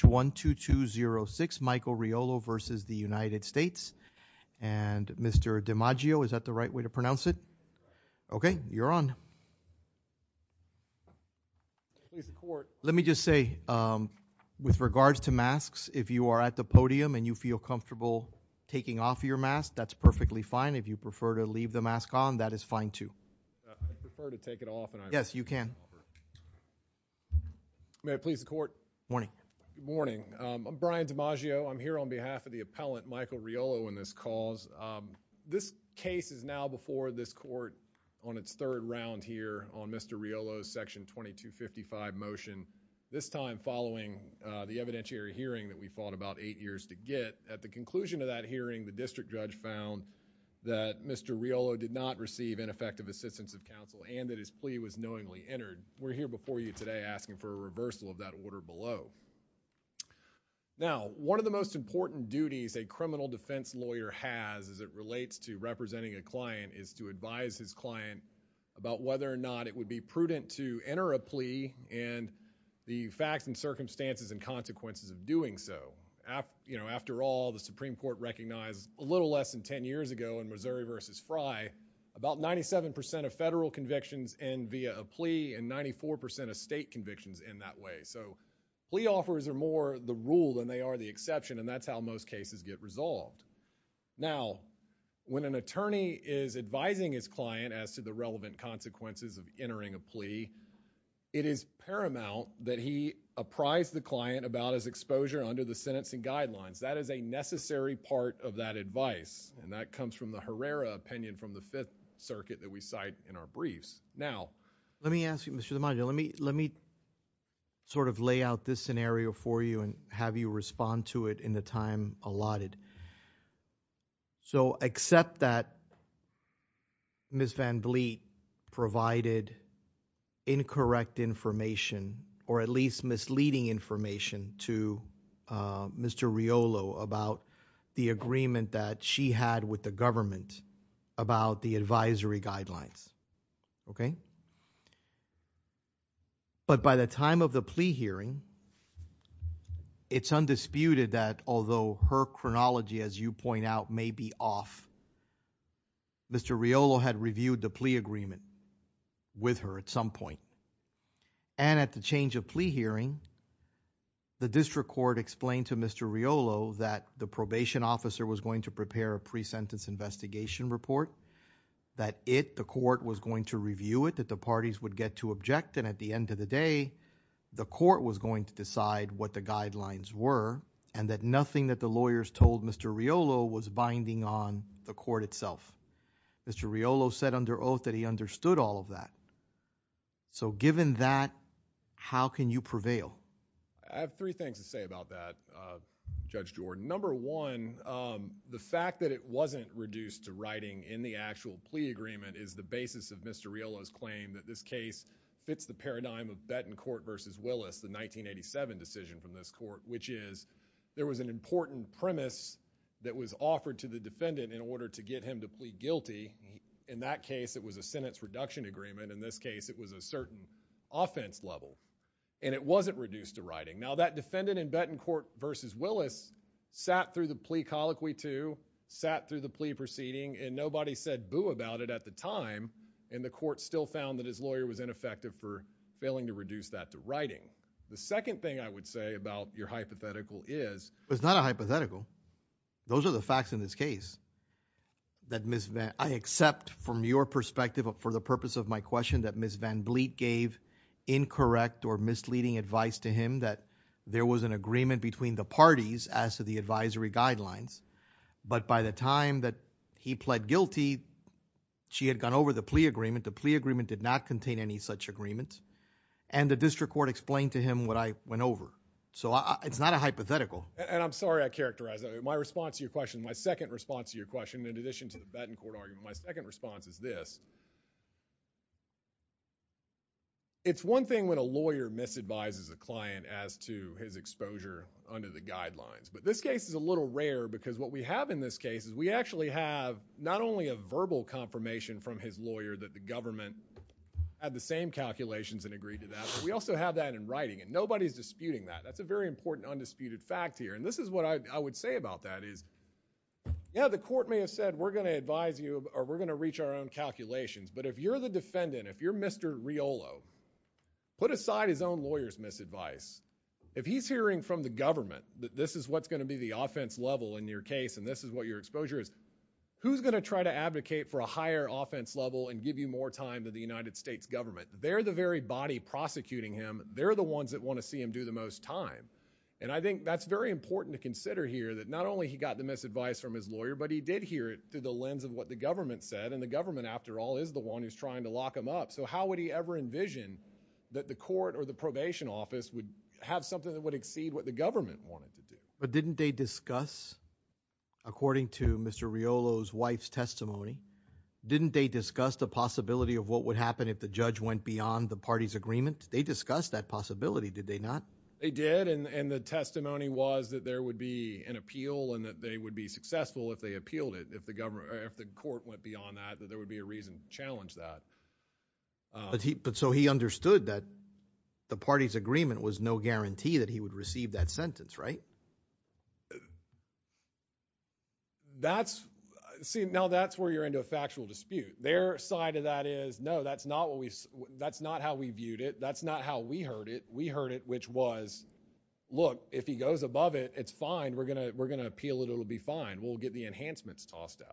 one two two zero six Michael Riolo versus the United States and Mr. DiMaggio is that the right way to pronounce it? Okay, you're on. Let me just say with regards to masks if you are at the podium and you feel comfortable taking off your mask that's perfectly fine if you prefer to leave the mask on that is fine too. Yes, you can. May I please the court morning? Good morning. I'm Brian DiMaggio. I'm here on behalf of the appellant Michael Riolo in this cause. This case is now before this court on its third round here on Mr. Riolo's section 2255 motion. This time following the evidentiary hearing that we fought about eight years to get at the conclusion of that hearing the district judge found that Mr. Riolo did not receive ineffective assistance of counsel and that his plea was knowingly low. Now one of the most important duties a criminal defense lawyer has as it relates to representing a client is to advise his client about whether or not it would be prudent to enter a plea and the facts and circumstances and consequences of doing so. You know after all the Supreme Court recognized a little less than ten years ago in Missouri versus Fry about 97% of federal convictions and via a plea and 94% of state convictions in that way. So plea offers are more the rule than they are the exception and that's how most cases get resolved. Now when an attorney is advising his client as to the relevant consequences of entering a plea it is paramount that he apprise the client about his exposure under the sentencing guidelines. That is a necessary part of that advice and that comes from the Herrera opinion from the Fifth Circuit that we cite in our briefs. Now let me ask you a question. Let me sort of lay out this scenario for you and have you respond to it in the time allotted. So except that Ms. Van Vliet provided incorrect information or at least misleading information to Mr. Riolo about the agreement that she had with the government about the advisory guidelines, okay? But by the time of the plea hearing it's undisputed that although her chronology as you point out may be off, Mr. Riolo had reviewed the plea agreement with her at some point and at the change of plea hearing the district court explained to Mr. Riolo that the probation officer was going to prepare a pre-sentence investigation report, that it, the court was going to review it, that the parties would get to object and at the end of the day the court was going to decide what the guidelines were and that nothing that the lawyers told Mr. Riolo was binding on the court itself. Mr. Riolo said under oath that he understood all of that. So given that, how can you prevail? I have three things to say about that, Judge The fact that it wasn't reduced to writing in the actual plea agreement is the basis of Mr. Riolo's claim that this case fits the paradigm of Bettencourt v. Willis, the 1987 decision from this court, which is there was an important premise that was offered to the defendant in order to get him to plead guilty. In that case it was a sentence reduction agreement. In this case it was a certain offense level and it wasn't reduced to writing. Now that defendant in Bettencourt v. Willis sat through the plea colloquy too, sat through the plea proceeding and nobody said boo about it at the time and the court still found that his lawyer was ineffective for failing to reduce that to writing. The second thing I would say about your hypothetical is... It's not a hypothetical. Those are the facts in this case that Ms. Van... I accept from your perspective for the purpose of my question that Ms. Van Bleet gave incorrect or misleading advice to him that there was an agreement between the parties as to the advisory guidelines, but by the time that he pled guilty she had gone over the plea agreement. The plea agreement did not contain any such agreement and the district court explained to him what I went over. So it's not a hypothetical. And I'm sorry I characterized that. My response to your question, my second response to your question in addition to the Bettencourt argument, my second response is this. It's one thing when a lawyer misadvises a client as to his exposure under the guidelines, but this case is a little rare because what we have in this case is we actually have not only a verbal confirmation from his lawyer that the government had the same calculations and agreed to that, but we also have that in writing and nobody's disputing that. That's a very important undisputed fact here and this is what I would say about that is yeah, the court may have said we're going to advise you or we're going to reach our own calculations, but if you're the defendant, if you're Mr. Riolo, put aside his own lawyer's misadvice. If he's hearing from the government that this is what's going to be the offense level in your case and this is what your exposure is, who's going to try to advocate for a higher offense level and give you more time than the United States government? They're the very body prosecuting him. They're the ones that want to see him do the most time. And I think that's very important to consider here that not only he got the misadvice from his lawyer, but he did hear it through the lens of what the government said and the government after all is the one who's trying to lock him up. So how would he ever envision that the court or the probation office would have something that would exceed what the government wanted to do? But didn't they discuss according to Mr. Riolo's wife's testimony, didn't they discuss the possibility of what would happen if the judge went beyond the party's agreement? They discussed that possibility, did they not? They did and the testimony was that there would be an appeal and that they would be successful if they appealed it, if the court went beyond that, that there would be a reason to challenge that. But so he understood that the party's agreement was no guarantee that he would receive that sentence, right? That's see, now that's where you're into a factual dispute. Their side of that is, no, that's not how we viewed it. That's not how we heard it. We heard it, which was, look, if he goes above it, it's fine. We're going to appeal it. It'll be fine. We'll get the what the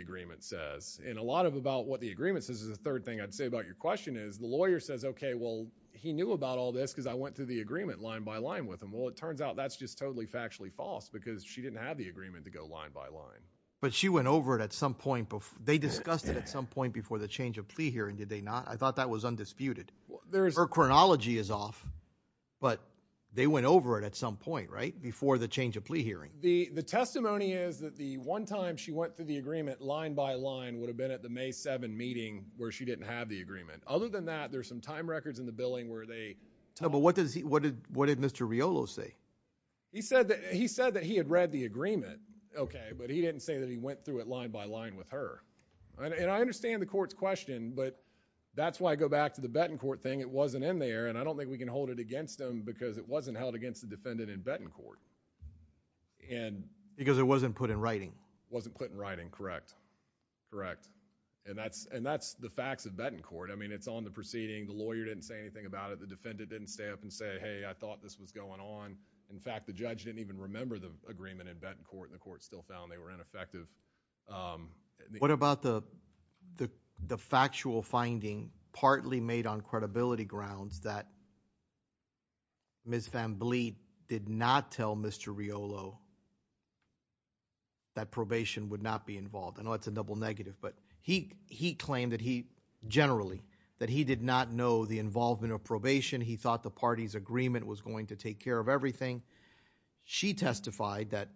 agreement says. And a lot about what the agreement says is the third thing I'd say about your question is the lawyer says, okay, well, he knew about all this because I went through the agreement line by line with him. Well, it turns out that's just totally factually false because she didn't have the agreement to go line by line. But she went over it at some point. They discussed it at some point before the change of plea hearing, did they not? I thought that was undisputed. Her chronology is off, but they went over it at some point, right, before the change of plea hearing. The testimony is that the one time she went through the agreement line by line would have been at the May 7 meeting where she didn't have the agreement. Other than that, there are some time records in the billing where they No, but what did Mr. Riolo say? He said that he had read the agreement, okay, but he didn't say that he went through it line by line with her. And I understand the court's question, but that's why I go back to the Bettencourt thing. It wasn't in there, and I don't think we can hold it against him because it wasn't held against the defendant in Bettencourt. Because it wasn't put in writing. It wasn't put in writing, correct, correct. And that's the facts of Bettencourt. I mean, it's on the proceeding. The lawyer didn't say anything about it. The defendant didn't say, hey, I thought this was going on. In fact, the judge didn't even remember the agreement in Bettencourt, and the court still found they were ineffective. What about the factual finding partly made on credibility grounds that Ms. Van Bleet did not tell Mr. Riolo that probation would not be involved? I know that's a double negative, but he claimed that he generally, that he did not know the involvement of probation. He thought the party's agreement was going to take care of everything. She testified that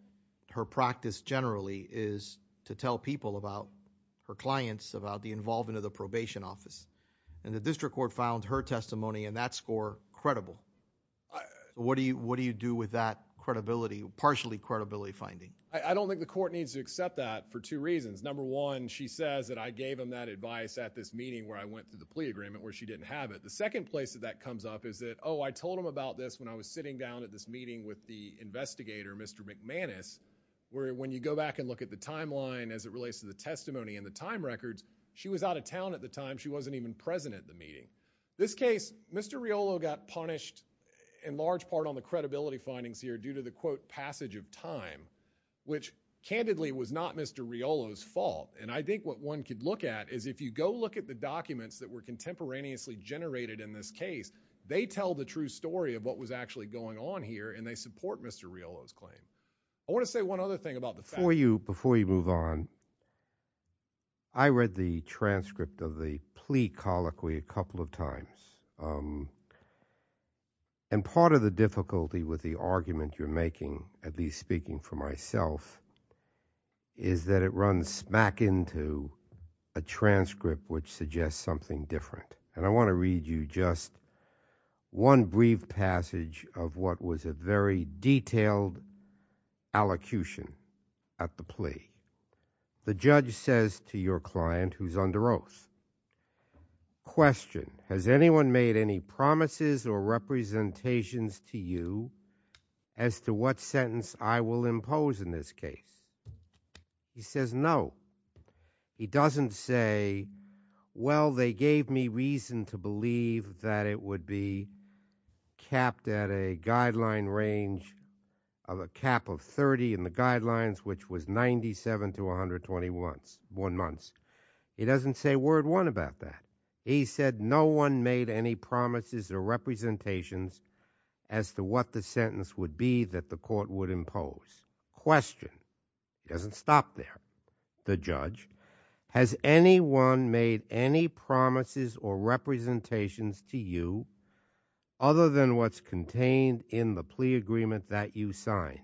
her practice generally is to tell people about her clients, about the involvement of the probation office. And the district court found her testimony and that score credible. What do you do with that credibility, partially credibility finding? I don't think the court needs to accept that for two reasons. Number one, she says that I gave him that advice at this meeting where I went through the plea agreement where she didn't have it. The second place that that comes up is that, oh, I told him about this when I was sitting down at this meeting with the investigator, Mr. McManus, where when you go back and look at the timeline as it relates to the testimony and the time records, she was out of town at the time. She wasn't even present at the meeting. This case, Mr. Riolo got punished in large part on the credibility findings here due to the quote passage of time, which candidly was not Mr. Riolo's fault. And I think what one could look at is if you go look at the documents that were contemporaneously generated in this case, they tell the true story of what was actually going on here and they support Mr. Riolo's claim. I want to say one other thing about the fact. Before you move on, I read the transcript of the plea colloquy a couple of times. And part of the difficulty with the argument you're making, at least speaking for myself, is that it runs smack into a transcript which suggests something different. And I want to read you just one brief passage of what was a very detailed allocution at the plea. The judge says to your client, who's under oath, question, has anyone made any promises or representations to you as to what sentence I will impose in this case? He says no. He doesn't say, well, they gave me reason to believe that it would be capped at a guideline range of a cap of 30 in the guidelines, which was 97 to 121 months. He doesn't say word one about that. He said no one made any promises or representations as to what the sentence would be that the court would impose. Question, he doesn't stop there. The judge, has anyone made any promises or representations to you other than what's contained in the plea agreement that you signed?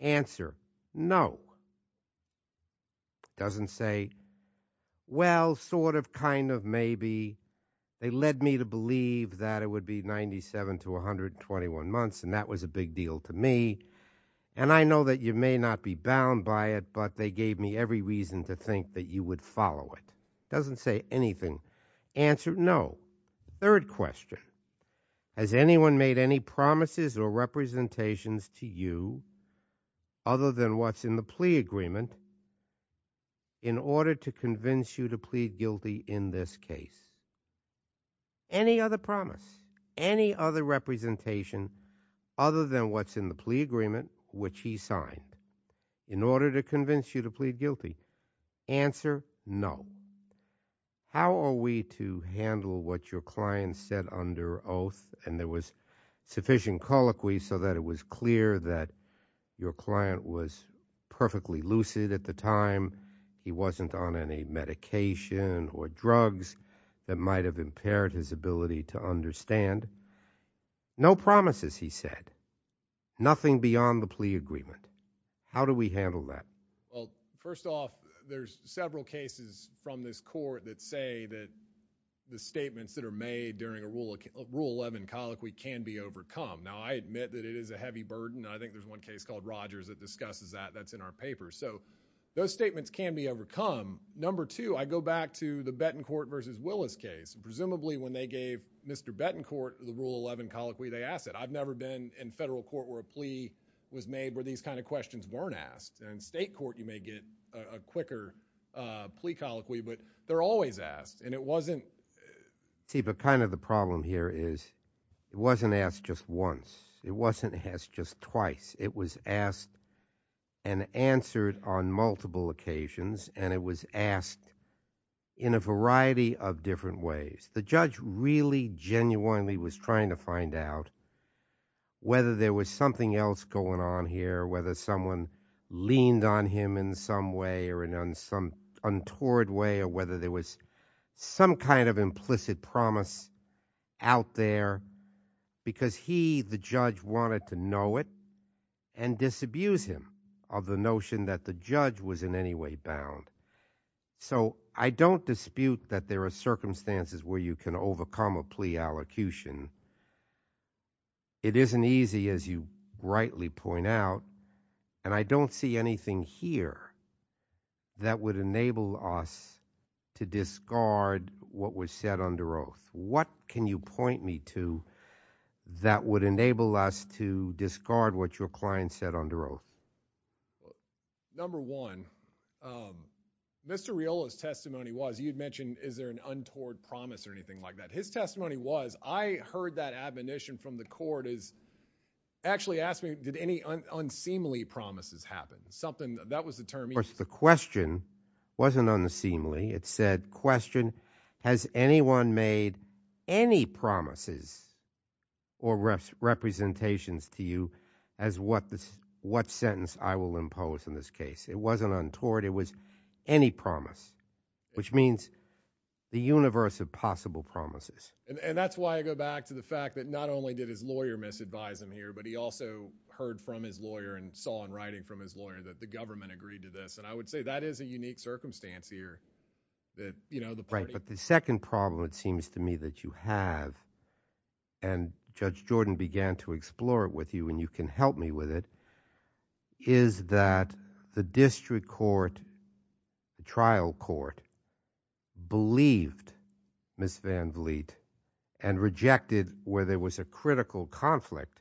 Answer, no. He doesn't say, well, sort of, kind of, maybe. They led me to believe that it would be 97 to 121 months, and that was a big deal to me. And I know that you may not be bound by it, but they gave me every reason to think that you would follow it. Doesn't say anything. Answer, no. Third question, has anyone made any promises or representations to you other than what's in the plea agreement in order to convince you to plead guilty in this case? Any other promise, any other representation other than what's in the plea agreement, which he signed, in order to convince you to plead guilty? Answer, no. How are we to handle what your client said under oath, and there was sufficient colloquy so that it was clear that your client was perfectly lucid at the time. He wasn't on any medication or drugs that might have impaired his ability to understand. No promises, he said. Nothing beyond the plea agreement. How do we handle that? Well, first off, there's several cases from this court that say that the statements that are made during a Rule 11 colloquy can be overcome. Now, I admit that it discusses that. That's in our paper. So, those statements can be overcome. Number two, I go back to the Bettencourt v. Willis case. Presumably, when they gave Mr. Bettencourt the Rule 11 colloquy, they asked it. I've never been in federal court where a plea was made where these kind of questions weren't asked. In state court, you may get a quicker plea colloquy, but they're always asked, and it wasn't— See, but kind of the problem here is it wasn't asked just once. It wasn't asked just twice. It was asked and answered on multiple occasions, and it was asked in a variety of different ways. The judge really genuinely was trying to find out whether there was something else going on here, whether someone leaned on him in some way or in some other way, and the judge wanted to know it and disabuse him of the notion that the judge was in any way bound. So, I don't dispute that there are circumstances where you can overcome a plea allocution. It isn't easy, as you rightly point out, and I don't see anything here that would us to discard what your client said under oath. Number one, Mr. Riolo's testimony was—you'd mention, is there an untoward promise or anything like that? His testimony was, I heard that admonition from the court is—actually asked me, did any unseemly promises happen? Something—that was the term he used. Of course, the question wasn't unseemly. It said, question, has anyone made any promises or representations to you as what this—what sentence I will impose in this case? It wasn't untoward. It was any promise, which means the universe of possible promises. And that's why I go back to the fact that not only did his lawyer misadvise him here, but he also heard from his lawyer and saw in writing from his lawyer that the government agreed to this, and I would say that is a unique circumstance here that, you know, the party— seems to me that you have, and Judge Jordan began to explore it with you, and you can help me with it—is that the district court, the trial court, believed Ms. Van Vliet and rejected, where there was a critical conflict,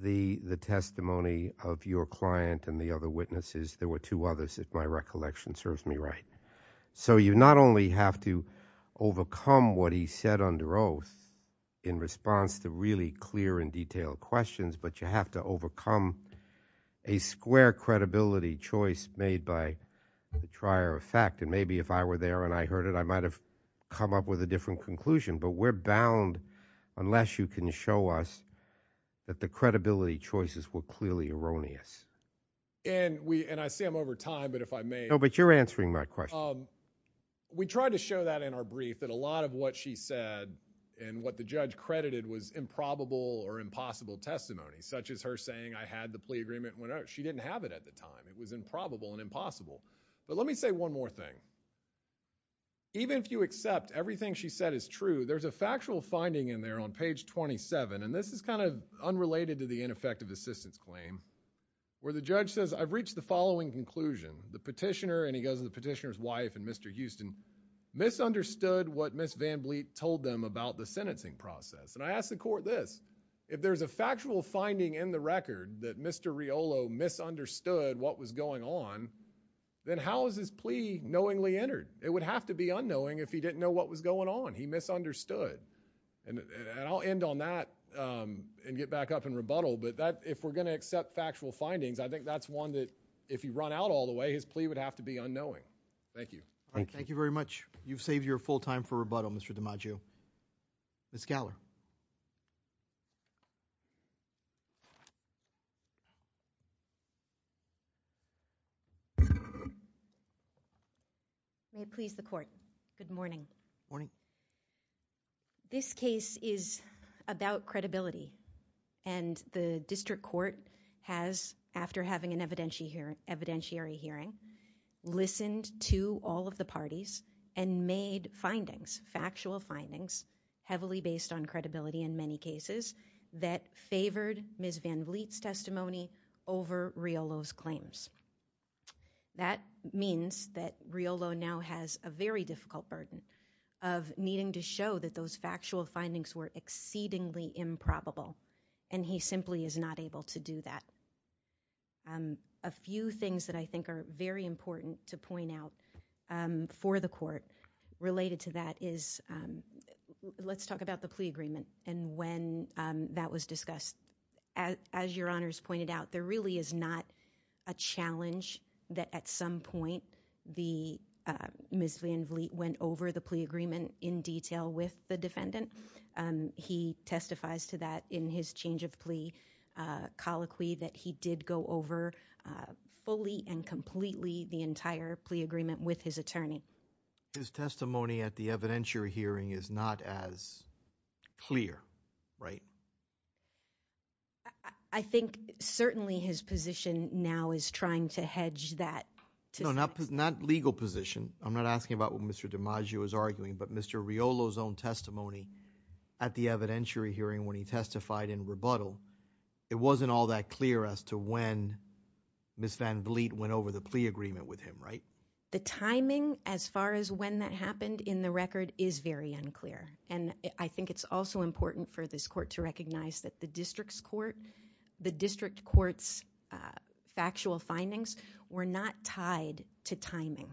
the testimony of your client and the other witnesses. There were two recollection serves me right. So you not only have to overcome what he said under oath in response to really clear and detailed questions, but you have to overcome a square credibility choice made by the trier of fact, and maybe if I were there and I heard it, I might have come up with a different conclusion, but we're bound, unless you can show us, that the credibility choices were clearly erroneous. And we—and I see I'm over time, but if I may— No, but you're answering my question. We tried to show that in our brief, that a lot of what she said and what the judge credited was improbable or impossible testimony, such as her saying, I had the plea agreement and went out. She didn't have it at the time. It was improbable and impossible, but let me say one more thing. Even if you accept everything she said is true, there's a factual finding in there on page 27, and this is kind of unrelated to the ineffective assistance claim, where the judge says, I've reached the following conclusion. The petitioner, and he goes to the petitioner's wife and Mr. Houston, misunderstood what Ms. Van Bleet told them about the sentencing process, and I asked the court this. If there's a factual finding in the record that Mr. Riolo misunderstood what was going on, then how is his plea knowingly entered? It would have to be unknowing if he ended on that and get back up and rebuttal, but if we're going to accept factual findings, I think that's one that, if he run out all the way, his plea would have to be unknowing. Thank you. Thank you very much. You've saved your full time for rebuttal, Mr. DiMaggio. Ms. Galler. May it please the court. Good morning. Morning. This case is about credibility, and the district court has, after having an evidentiary hearing, listened to all of the parties and made findings, factual findings, heavily based on credibility in many cases, that favored Ms. Van Bleet's testimony over Riolo's claims. That means that those factual findings were exceedingly improbable, and he simply is not able to do that. A few things that I think are very important to point out for the court related to that is, let's talk about the plea agreement and when that was discussed. As your honors pointed out, there really is not a challenge that at some point Ms. Van Bleet went over the plea agreement in detail with the defendant. He testifies to that in his change of plea colloquy that he did go over fully and completely the entire plea agreement with his attorney. His testimony at the evidentiary hearing is not as clear, right? I think certainly his position now is trying to hedge that. No, not legal position. I'm not Riolo's own testimony at the evidentiary hearing when he testified in rebuttal. It wasn't all that clear as to when Ms. Van Bleet went over the plea agreement with him, right? The timing as far as when that happened in the record is very unclear, and I think it's also important for this court to recognize that the district's court, the district court's factual findings were not tied to timing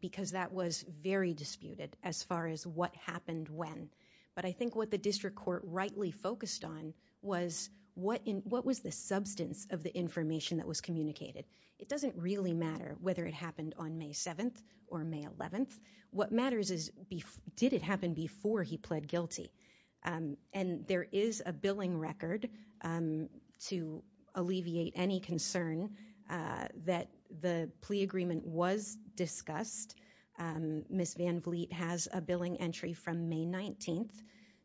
because that was very disputed as far as what happened when. But I think what the district court rightly focused on was what was the substance of the information that was communicated. It doesn't really matter whether it happened on May 7th or May 11th. What matters is did it happen before he pled guilty, and there is a billing record to alleviate any concern that the plea agreement was discussed. Ms. Van Bleet has a billing entry from May 19th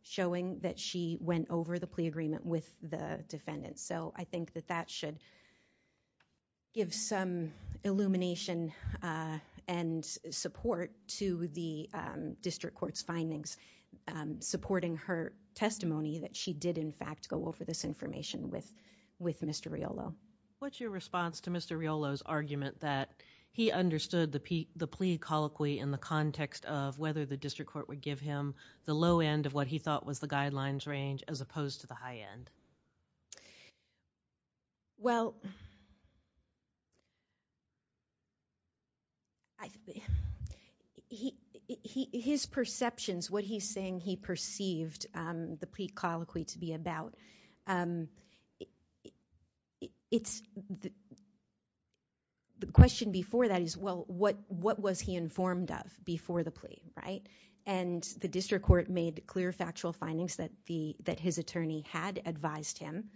showing that she went over the plea agreement with the defendant. So I think that that should give some illumination and support to the district court's findings supporting her testimony that she did in fact go over this information with Mr. Riolo. What's your response to Mr. Riolo's argument that he understood the plea colloquy in the context of whether the district court would give him the low end of what he thought was the guidelines range as opposed to the high end? Well, his perceptions, what he's saying he perceived the plea colloquy to be about, but the question before that is, well, what was he informed of before the plea, right? And the district court made clear factual findings that his attorney had advised him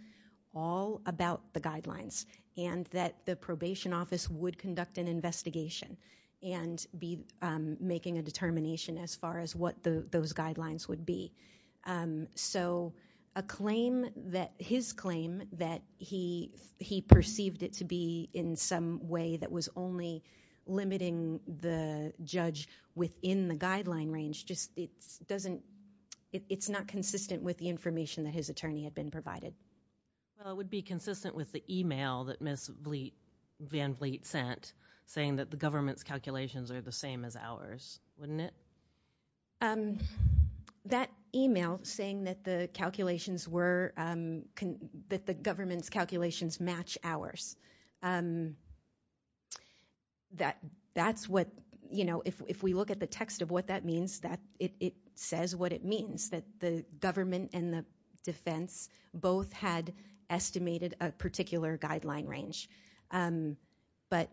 all about the guidelines and that the probation office would conduct an investigation and be making a determination as what those guidelines would be. So his claim that he perceived it to be in some way that was only limiting the judge within the guideline range, it's not consistent with the information that his attorney had been provided. Well, it would be consistent with the email that Ms. Van Bleet sent saying that the government's calculations are the same as ours, wouldn't it? That email saying that the calculations were, that the government's calculations match ours, that's what, you know, if we look at the text of what that means, that it says what it means, that the government and the defense both had estimated a particular guideline range, but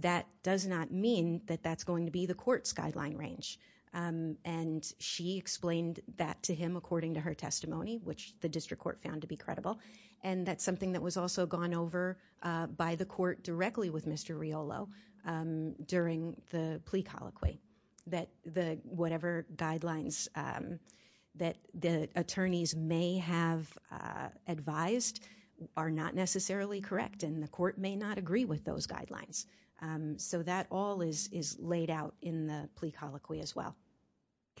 that does not mean that that's going to be the court's guideline range. And she explained that to him according to her testimony, which the district court found to be credible. And that's something that was also gone over by the court directly with Mr. Riolo during the plea colloquy, that the, whatever guidelines that the attorneys may have advised are not necessarily correct and the court may not agree with those guidelines. So that all is laid out in the plea colloquy as well.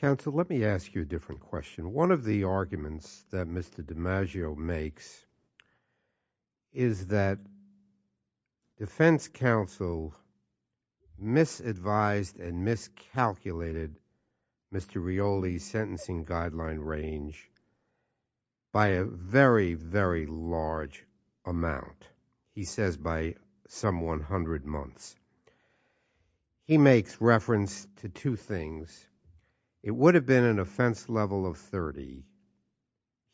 Counsel, let me ask you a different question. One of the arguments that Mr. DiMaggio makes is that defense counsel misadvised and miscalculated Mr. Riolo's sentencing guideline range by a very, very large amount. He says by some 100 months. He makes reference to two things. It would have been an offense level of 30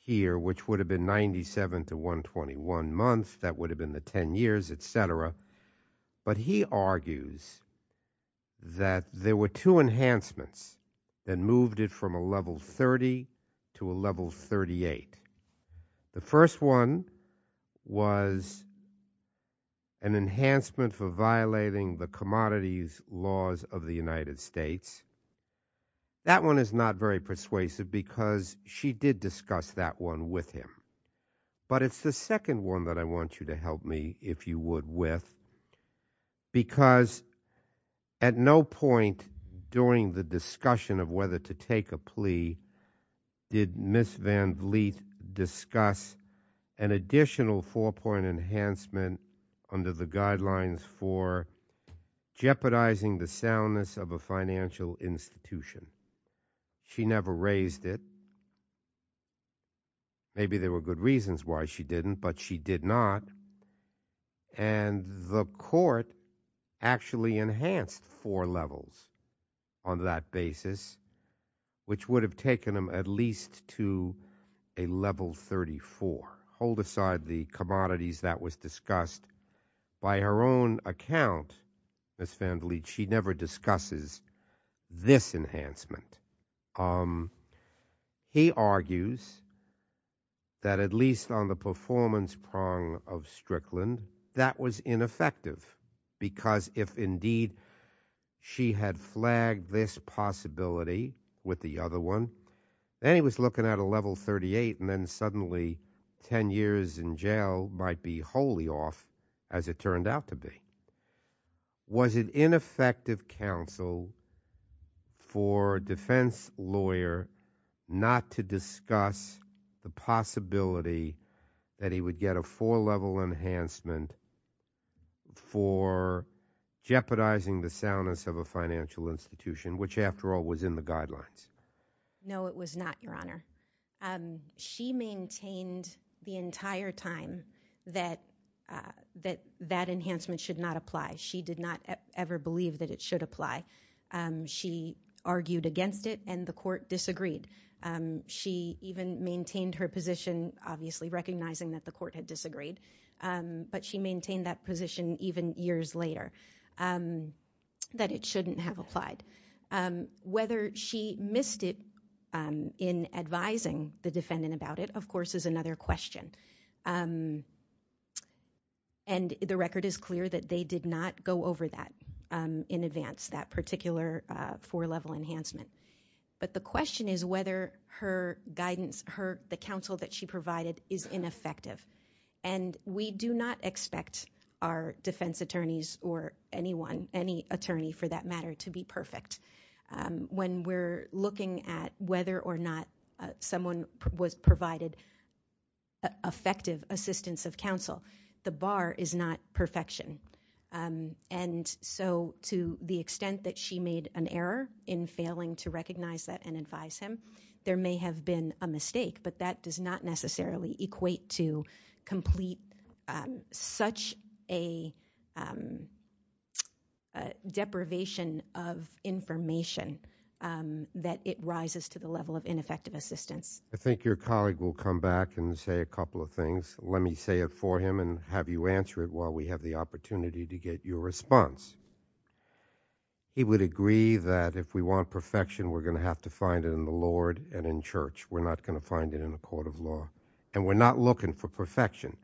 here, which would have been 97 to 121 months. That would have been the 10 years, et cetera. But he argues that there were two enhancements that moved it from a level 30 to a level 38. The first one was an enhancement for violating the commodities laws of the United States. That one is not very persuasive because she did discuss that one with him. But it's the second one that I want you to help me, if you would, with. Because at no point during the discussion of whether to take a plea did Ms. Van Vliet discuss an additional four-point enhancement under the guidelines for jeopardizing the soundness of a financial institution. She never raised it. Maybe there were good reasons why she didn't, but she did not. And the court actually enhanced four levels on that basis, which would have taken them at least to a level 34. Hold aside the commodities that was discussed. By her own account, Ms. Van Vliet, she never discusses this enhancement. He argues that at least on the Strickland, that was ineffective because if indeed she had flagged this possibility with the other one, then he was looking at a level 38 and then suddenly 10 years in jail might be wholly off as it turned out to be. Was it ineffective counsel for defense lawyer not to discuss the possibility that he would get a four-level enhancement for jeopardizing the soundness of a financial institution, which after all was in the guidelines? No, it was not, your honor. She maintained the entire time that that enhancement should not apply. She did not ever believe that it should apply. She argued against it and the court disagreed. She even maintained her position, obviously recognizing that the court had disagreed, but she maintained that position even years later that it shouldn't have applied. Whether she missed it in advising the defendant about it, of course, is another question. And the record is clear that they did not go over that in advance, that particular four-level enhancement. But the question is whether her guidance, the counsel that she provided is ineffective. And we do not expect our defense attorneys or anyone, any attorney for that matter, to be perfect. When we're looking at whether or not someone was provided effective assistance of to recognize that and advise him, there may have been a mistake, but that does not necessarily equate to complete such a deprivation of information that it rises to the level of ineffective assistance. I think your colleague will come back and say a couple of things. Let me say it for him and have you answer it while we have the opportunity to get your response. He would agree that if we want perfection, we're going to have to find it in the Lord and in church. We're not going to find it in a court of law. And we're not looking for perfection,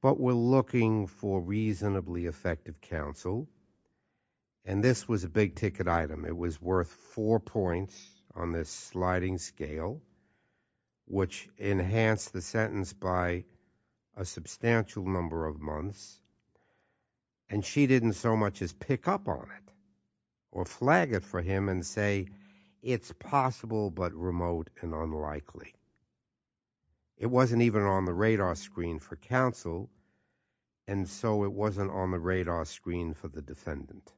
but we're looking for reasonably effective counsel. And this was a big-ticket item. It was worth four points on this sliding scale, which enhanced the sentence by a substantial number of months. And she didn't so much as pick up on it or flag it for him and say, it's possible but remote and unlikely. It wasn't even on the radar screen for counsel, and so it wasn't on the radar screen for the defendant.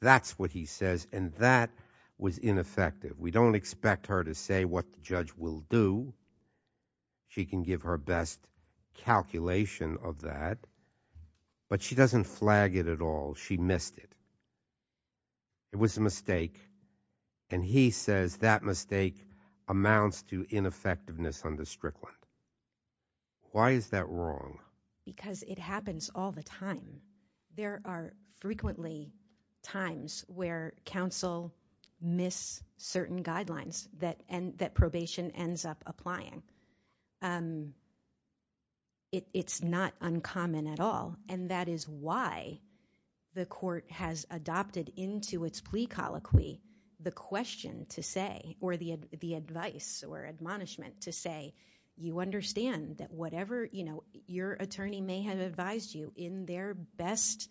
That's what he says, and that was ineffective. We don't expect her to say what the judge will do. She can give her best calculation of that, but she doesn't flag it at all. She missed it. It was a mistake, and he says that mistake amounts to ineffectiveness under Strickland. Why is that wrong? Because it happens all the time. There are frequently times where counsel miss certain guidelines that probation ends up applying. It's not uncommon at all, and that is why the court has adopted into its plea colloquy the question to say, or the advice or admonishment to say, you understand that whatever your attorney may have advised you in their best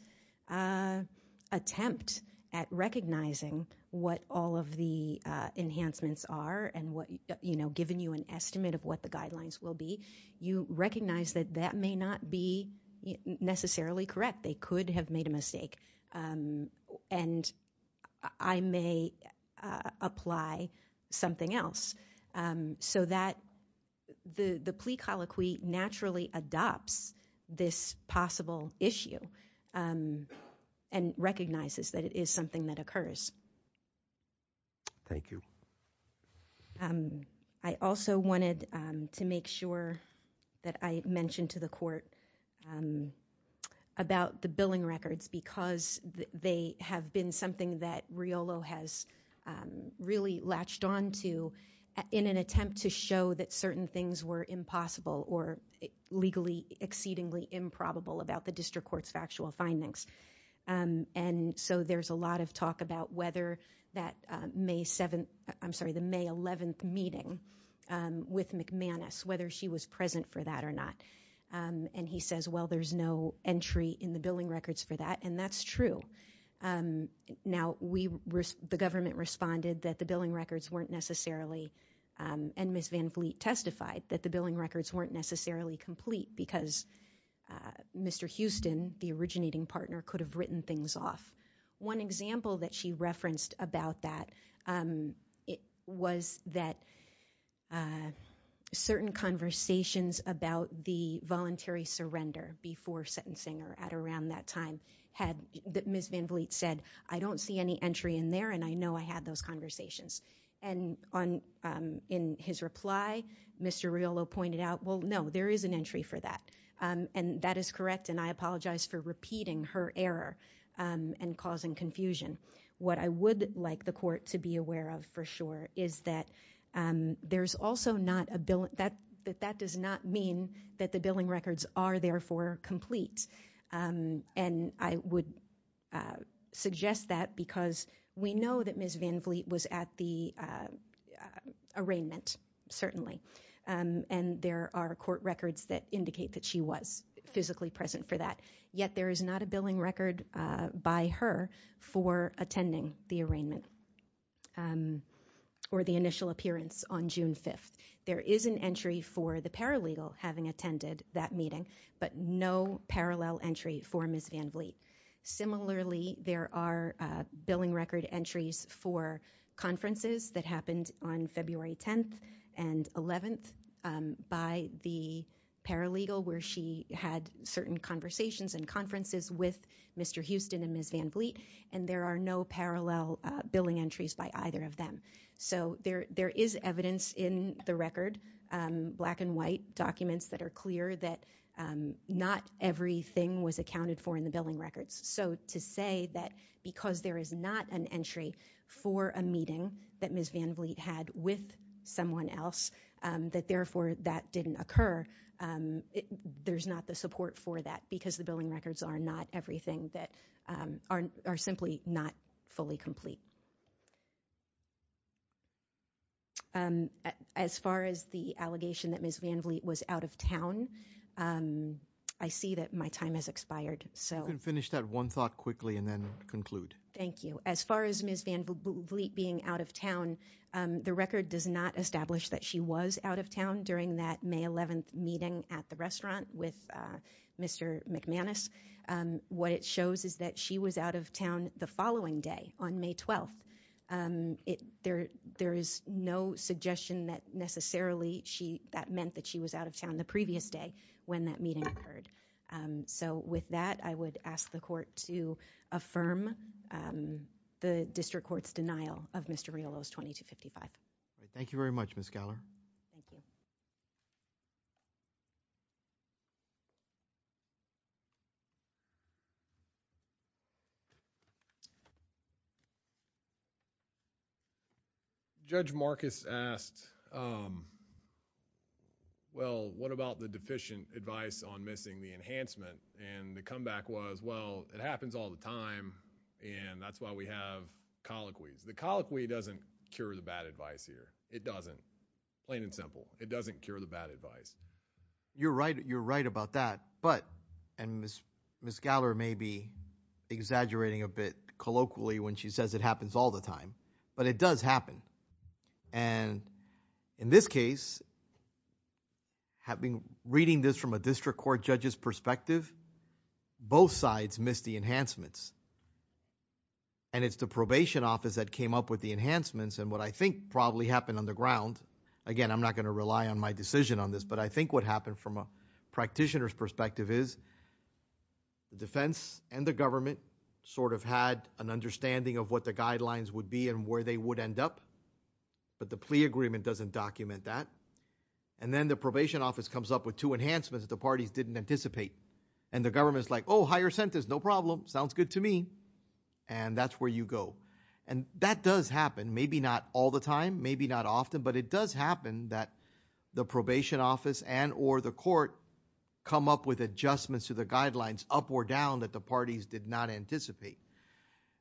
attempt at recognizing what all of the enhancements are and given you an estimate of what the guidelines will be, you recognize that that may not be necessarily correct. They could have made a mistake, and I may apply something else. So the plea colloquy naturally adopts this possible issue and recognizes that it is something that occurs. Thank you. I also wanted to make sure that I mentioned to the court about the billing records because they have been something that Riolo has really latched onto in an attempt to show that certain things were impossible or legally exceedingly improbable about the district court's factual findings. And so there's a lot of talk about whether that May 7th, I'm sorry, the May 11th meeting with McManus, whether she was present for that or not. And he says, well, there's no entry in the billing records for that, and that's true. Now, the government responded that the billing records weren't necessarily, and Ms. Van Vliet testified that the billing records weren't necessarily complete because Mr. Houston, the originating partner, could have written things off. One example that she referenced about that was that certain conversations about the voluntary I don't see any entry in there, and I know I had those conversations. And in his reply, Mr. Riolo pointed out, well, no, there is an entry for that. And that is correct, and I apologize for repeating her error and causing confusion. What I would like the court to be aware of for sure is that that does not mean that the billing records are therefore complete. And I would suggest that because we know that Ms. Van Vliet was at the arraignment, certainly, and there are court records that indicate that she was physically present for that. Yet there is not a billing record by her for attending the arraignment or the initial appearance on June 5th. There is an entry for the paralegal having attended that meeting, but no parallel entry for Ms. Van Vliet. Similarly, there are billing record entries for conferences that happened on February 10th and 11th by the paralegal where she had certain conversations and conferences with Mr. Houston and Ms. Van Vliet, and there are no parallel billing entries by either of them. So there that not everything was accounted for in the billing records. So to say that because there is not an entry for a meeting that Ms. Van Vliet had with someone else, that therefore that didn't occur, there's not the support for that because the billing records are not everything that are simply not fully complete. As far as the allegation that Ms. Van Vliet was out of town, I see that my time has expired. You can finish that one thought quickly and then conclude. Thank you. As far as Ms. Van Vliet being out of town, the record does not establish that she was out of town during that May 11th meeting at the restaurant with Mr. McManus. What it shows is that she was out of town the following day, on May 12th. There is no suggestion that necessarily that meant that she was out of town the previous day when that meeting occurred. So with that, I would ask the court to affirm the district court's denial of Mr. Riolo's 2255. Thank you very much, Ms. Geller. Judge Marcus asked, well, what about the deficient advice on missing the enhancement? And the comeback was, well, it happens all the time and that's why we have colloquies. The it doesn't. Plain and simple. It doesn't cure the bad advice. You're right. You're right about that. But, and Ms. Geller may be exaggerating a bit colloquially when she says it happens all the time, but it does happen. And in this case, reading this from a district court judge's perspective, both sides missed the enhancements. And it's the probation office that came up with the enhancements. And what I think probably happened on the ground, again, I'm not going to rely on my decision on this, but I think what happened from a practitioner's perspective is the defense and the government sort of had an understanding of what the guidelines would be and where they would end up. But the plea agreement doesn't document that. And then the probation office comes up with two enhancements that the parties didn't anticipate. And the government's like, oh, higher sentence, no problem. Sounds good to me. And that's where you go. And that does happen. Maybe not all the time, maybe not often, but it does happen that the probation office and or the court come up with adjustments to the guidelines up or down that the parties did not anticipate.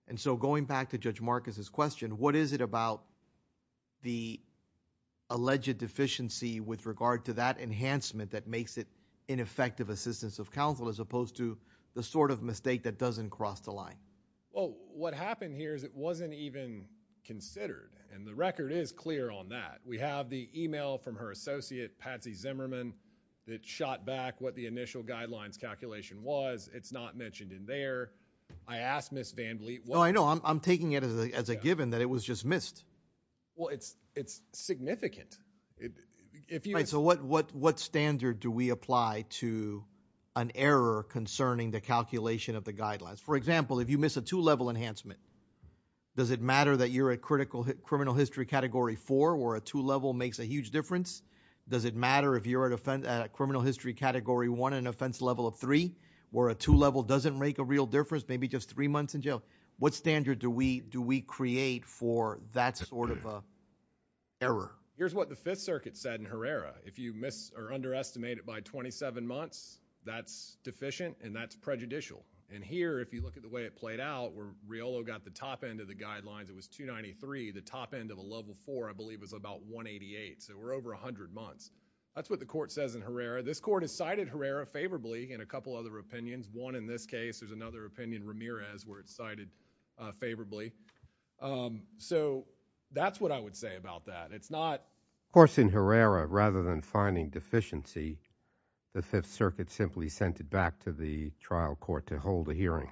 And so going back to Judge Marcus's question, what is it about the alleged deficiency with regard to that enhancement that makes it ineffective assistance of counsel as opposed to the sort of mistake that doesn't cross the line? Well, what happened here is it wasn't even considered. And the record is clear on that. We have the email from her associate, Patsy Zimmerman, that shot back what the initial guidelines calculation was. It's not mentioned in there. I asked Ms. VanVleet. No, I know. I'm to an error concerning the calculation of the guidelines. For example, if you miss a two-level enhancement, does it matter that you're a critical criminal history category four or a two-level makes a huge difference? Does it matter if you're at a criminal history category one and offense level of three or a two-level doesn't make a real difference, maybe just three months in jail? What standard do we create for that sort of error? Here's what the Fifth Circuit said in Herrera. If you miss or underestimate it by 27 months, that's deficient and that's prejudicial. And here, if you look at the way it played out where Riolo got the top end of the guidelines, it was 293. The top end of a level four, I believe, was about 188. So we're over 100 months. That's what the court says in Herrera. This court has cited Herrera favorably in a couple other opinions. One in this case, there's another opinion, Ramirez, where it's cited favorably. So that's what I would say about that. Of course, in Herrera, rather than finding deficiency, the Fifth Circuit simply sent it back to the trial court to hold a hearing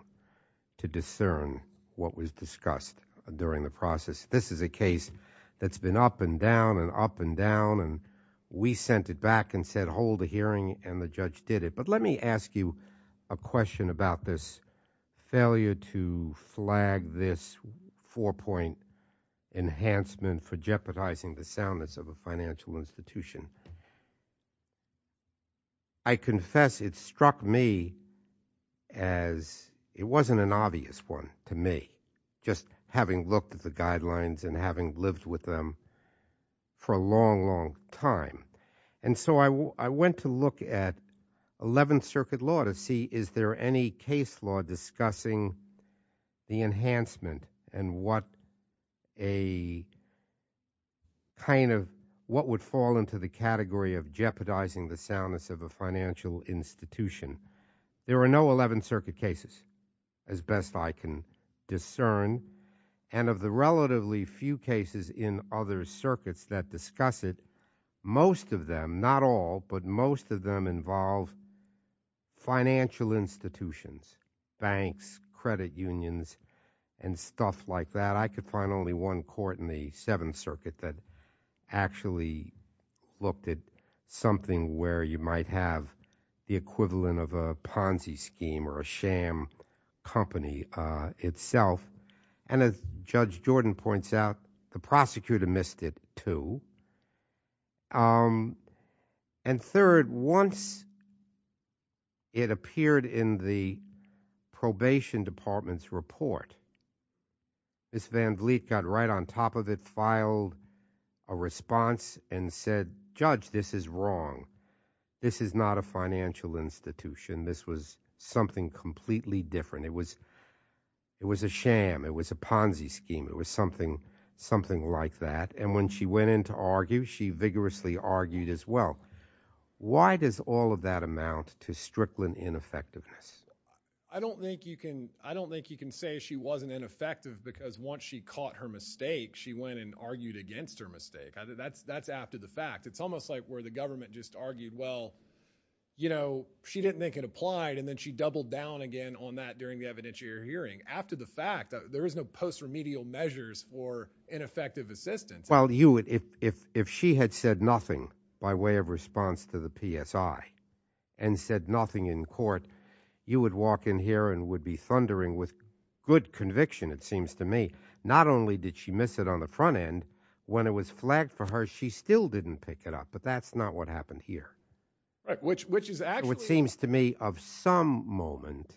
to discern what was discussed during the process. This is a case that's been up and down and up and down. And we sent it back and said, hold a hearing, and the judge did it. But let me ask you a question about this failure to flag this four-point enhancement for jeopardizing the soundness of a financial institution. I confess it struck me as it wasn't an obvious one to me, just having looked at the guidelines and having lived with them for a long, long time. And so I went to look at Eleventh Circuit law to see is there any case law discussing the enhancement and what a kind of what would fall into the category of jeopardizing the soundness of a financial institution. There are no Eleventh Circuit cases, as best I can of them, not all, but most of them involve financial institutions, banks, credit unions, and stuff like that. I could find only one court in the Seventh Circuit that actually looked at something where you might have the equivalent of a Ponzi scheme or a sham company itself. And as Judge Jordan points out, the prosecutor missed it too. And third, once it appeared in the probation department's report, Ms. Van Vliet got right on top of it, filed a response and said, Judge, this is wrong. This is not a financial institution. This was something completely different. It was a sham. It was a Ponzi scheme. It was something like that. And when she went in to argue, she vigorously argued as well. Why does all of that amount to Strickland ineffectiveness? I don't think you can say she wasn't ineffective because once she caught her mistake, she went and argued against her mistake. That's after the fact. It's almost like where the government just argued, well, you know, she didn't think it applied, and then she doubled down again on that during the evidentiary hearing. After the fact, there is no post-remedial measures for that. If she had said nothing by way of response to the PSI and said nothing in court, you would walk in here and would be thundering with good conviction, it seems to me. Not only did she miss it on the front end, when it was flagged for her, she still didn't pick it up. But that's not what happened here. Which is actually what seems to me of some moment,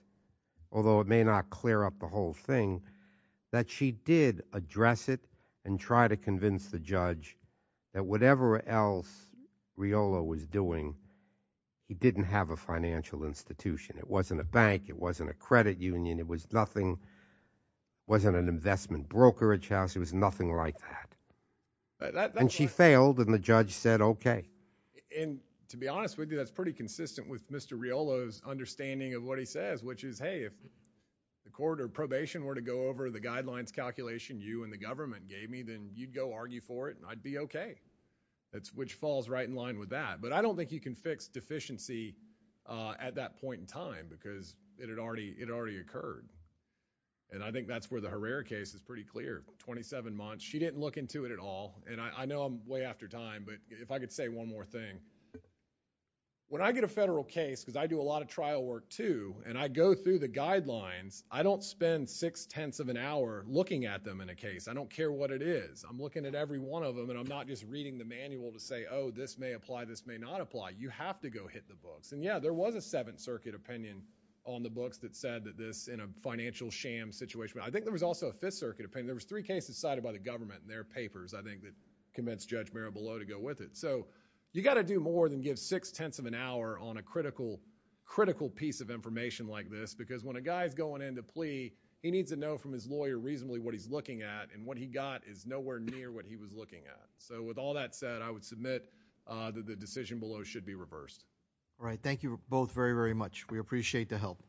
although it may not clear up the whole thing, that she did address it and try to convince the judge that whatever else Riolo was doing, he didn't have a financial institution. It wasn't a bank. It wasn't a credit union. It was nothing. It wasn't an investment brokerage house. It was nothing like that. And she failed, and the judge said, okay. And to be honest with you, that's pretty consistent with Mr. Riolo's of what he says, which is, hey, if the court or probation were to go over the guidelines calculation you and the government gave me, then you'd go argue for it, and I'd be okay. Which falls right in line with that. But I don't think you can fix deficiency at that point in time, because it had already occurred. And I think that's where the Herrera case is pretty clear. 27 months. She didn't look into it at all. And I know I'm way after time, but if I could say one more thing. When I get a federal case, because I do a lot of trial work, too, and I go through the guidelines, I don't spend six-tenths of an hour looking at them in a case. I don't care what it is. I'm looking at every one of them, and I'm not just reading the manual to say, oh, this may apply, this may not apply. You have to go hit the books. And yeah, there was a Seventh Circuit opinion on the books that said that this, in a financial sham situation. I think there was also a Fifth Circuit opinion. There was three cases cited by the government in their papers, I think, that convinced Judge Mirabalot to go with it. So, you've got to do more than give six-tenths of an hour on a critical piece of information like this, because when a guy's going into plea, he needs to know from his lawyer reasonably what he's looking at, and what he got is nowhere near what he was looking at. So, with all that said, I would submit that the decision below should be reversed. All right. Thank you both very, very much. We appreciate the help.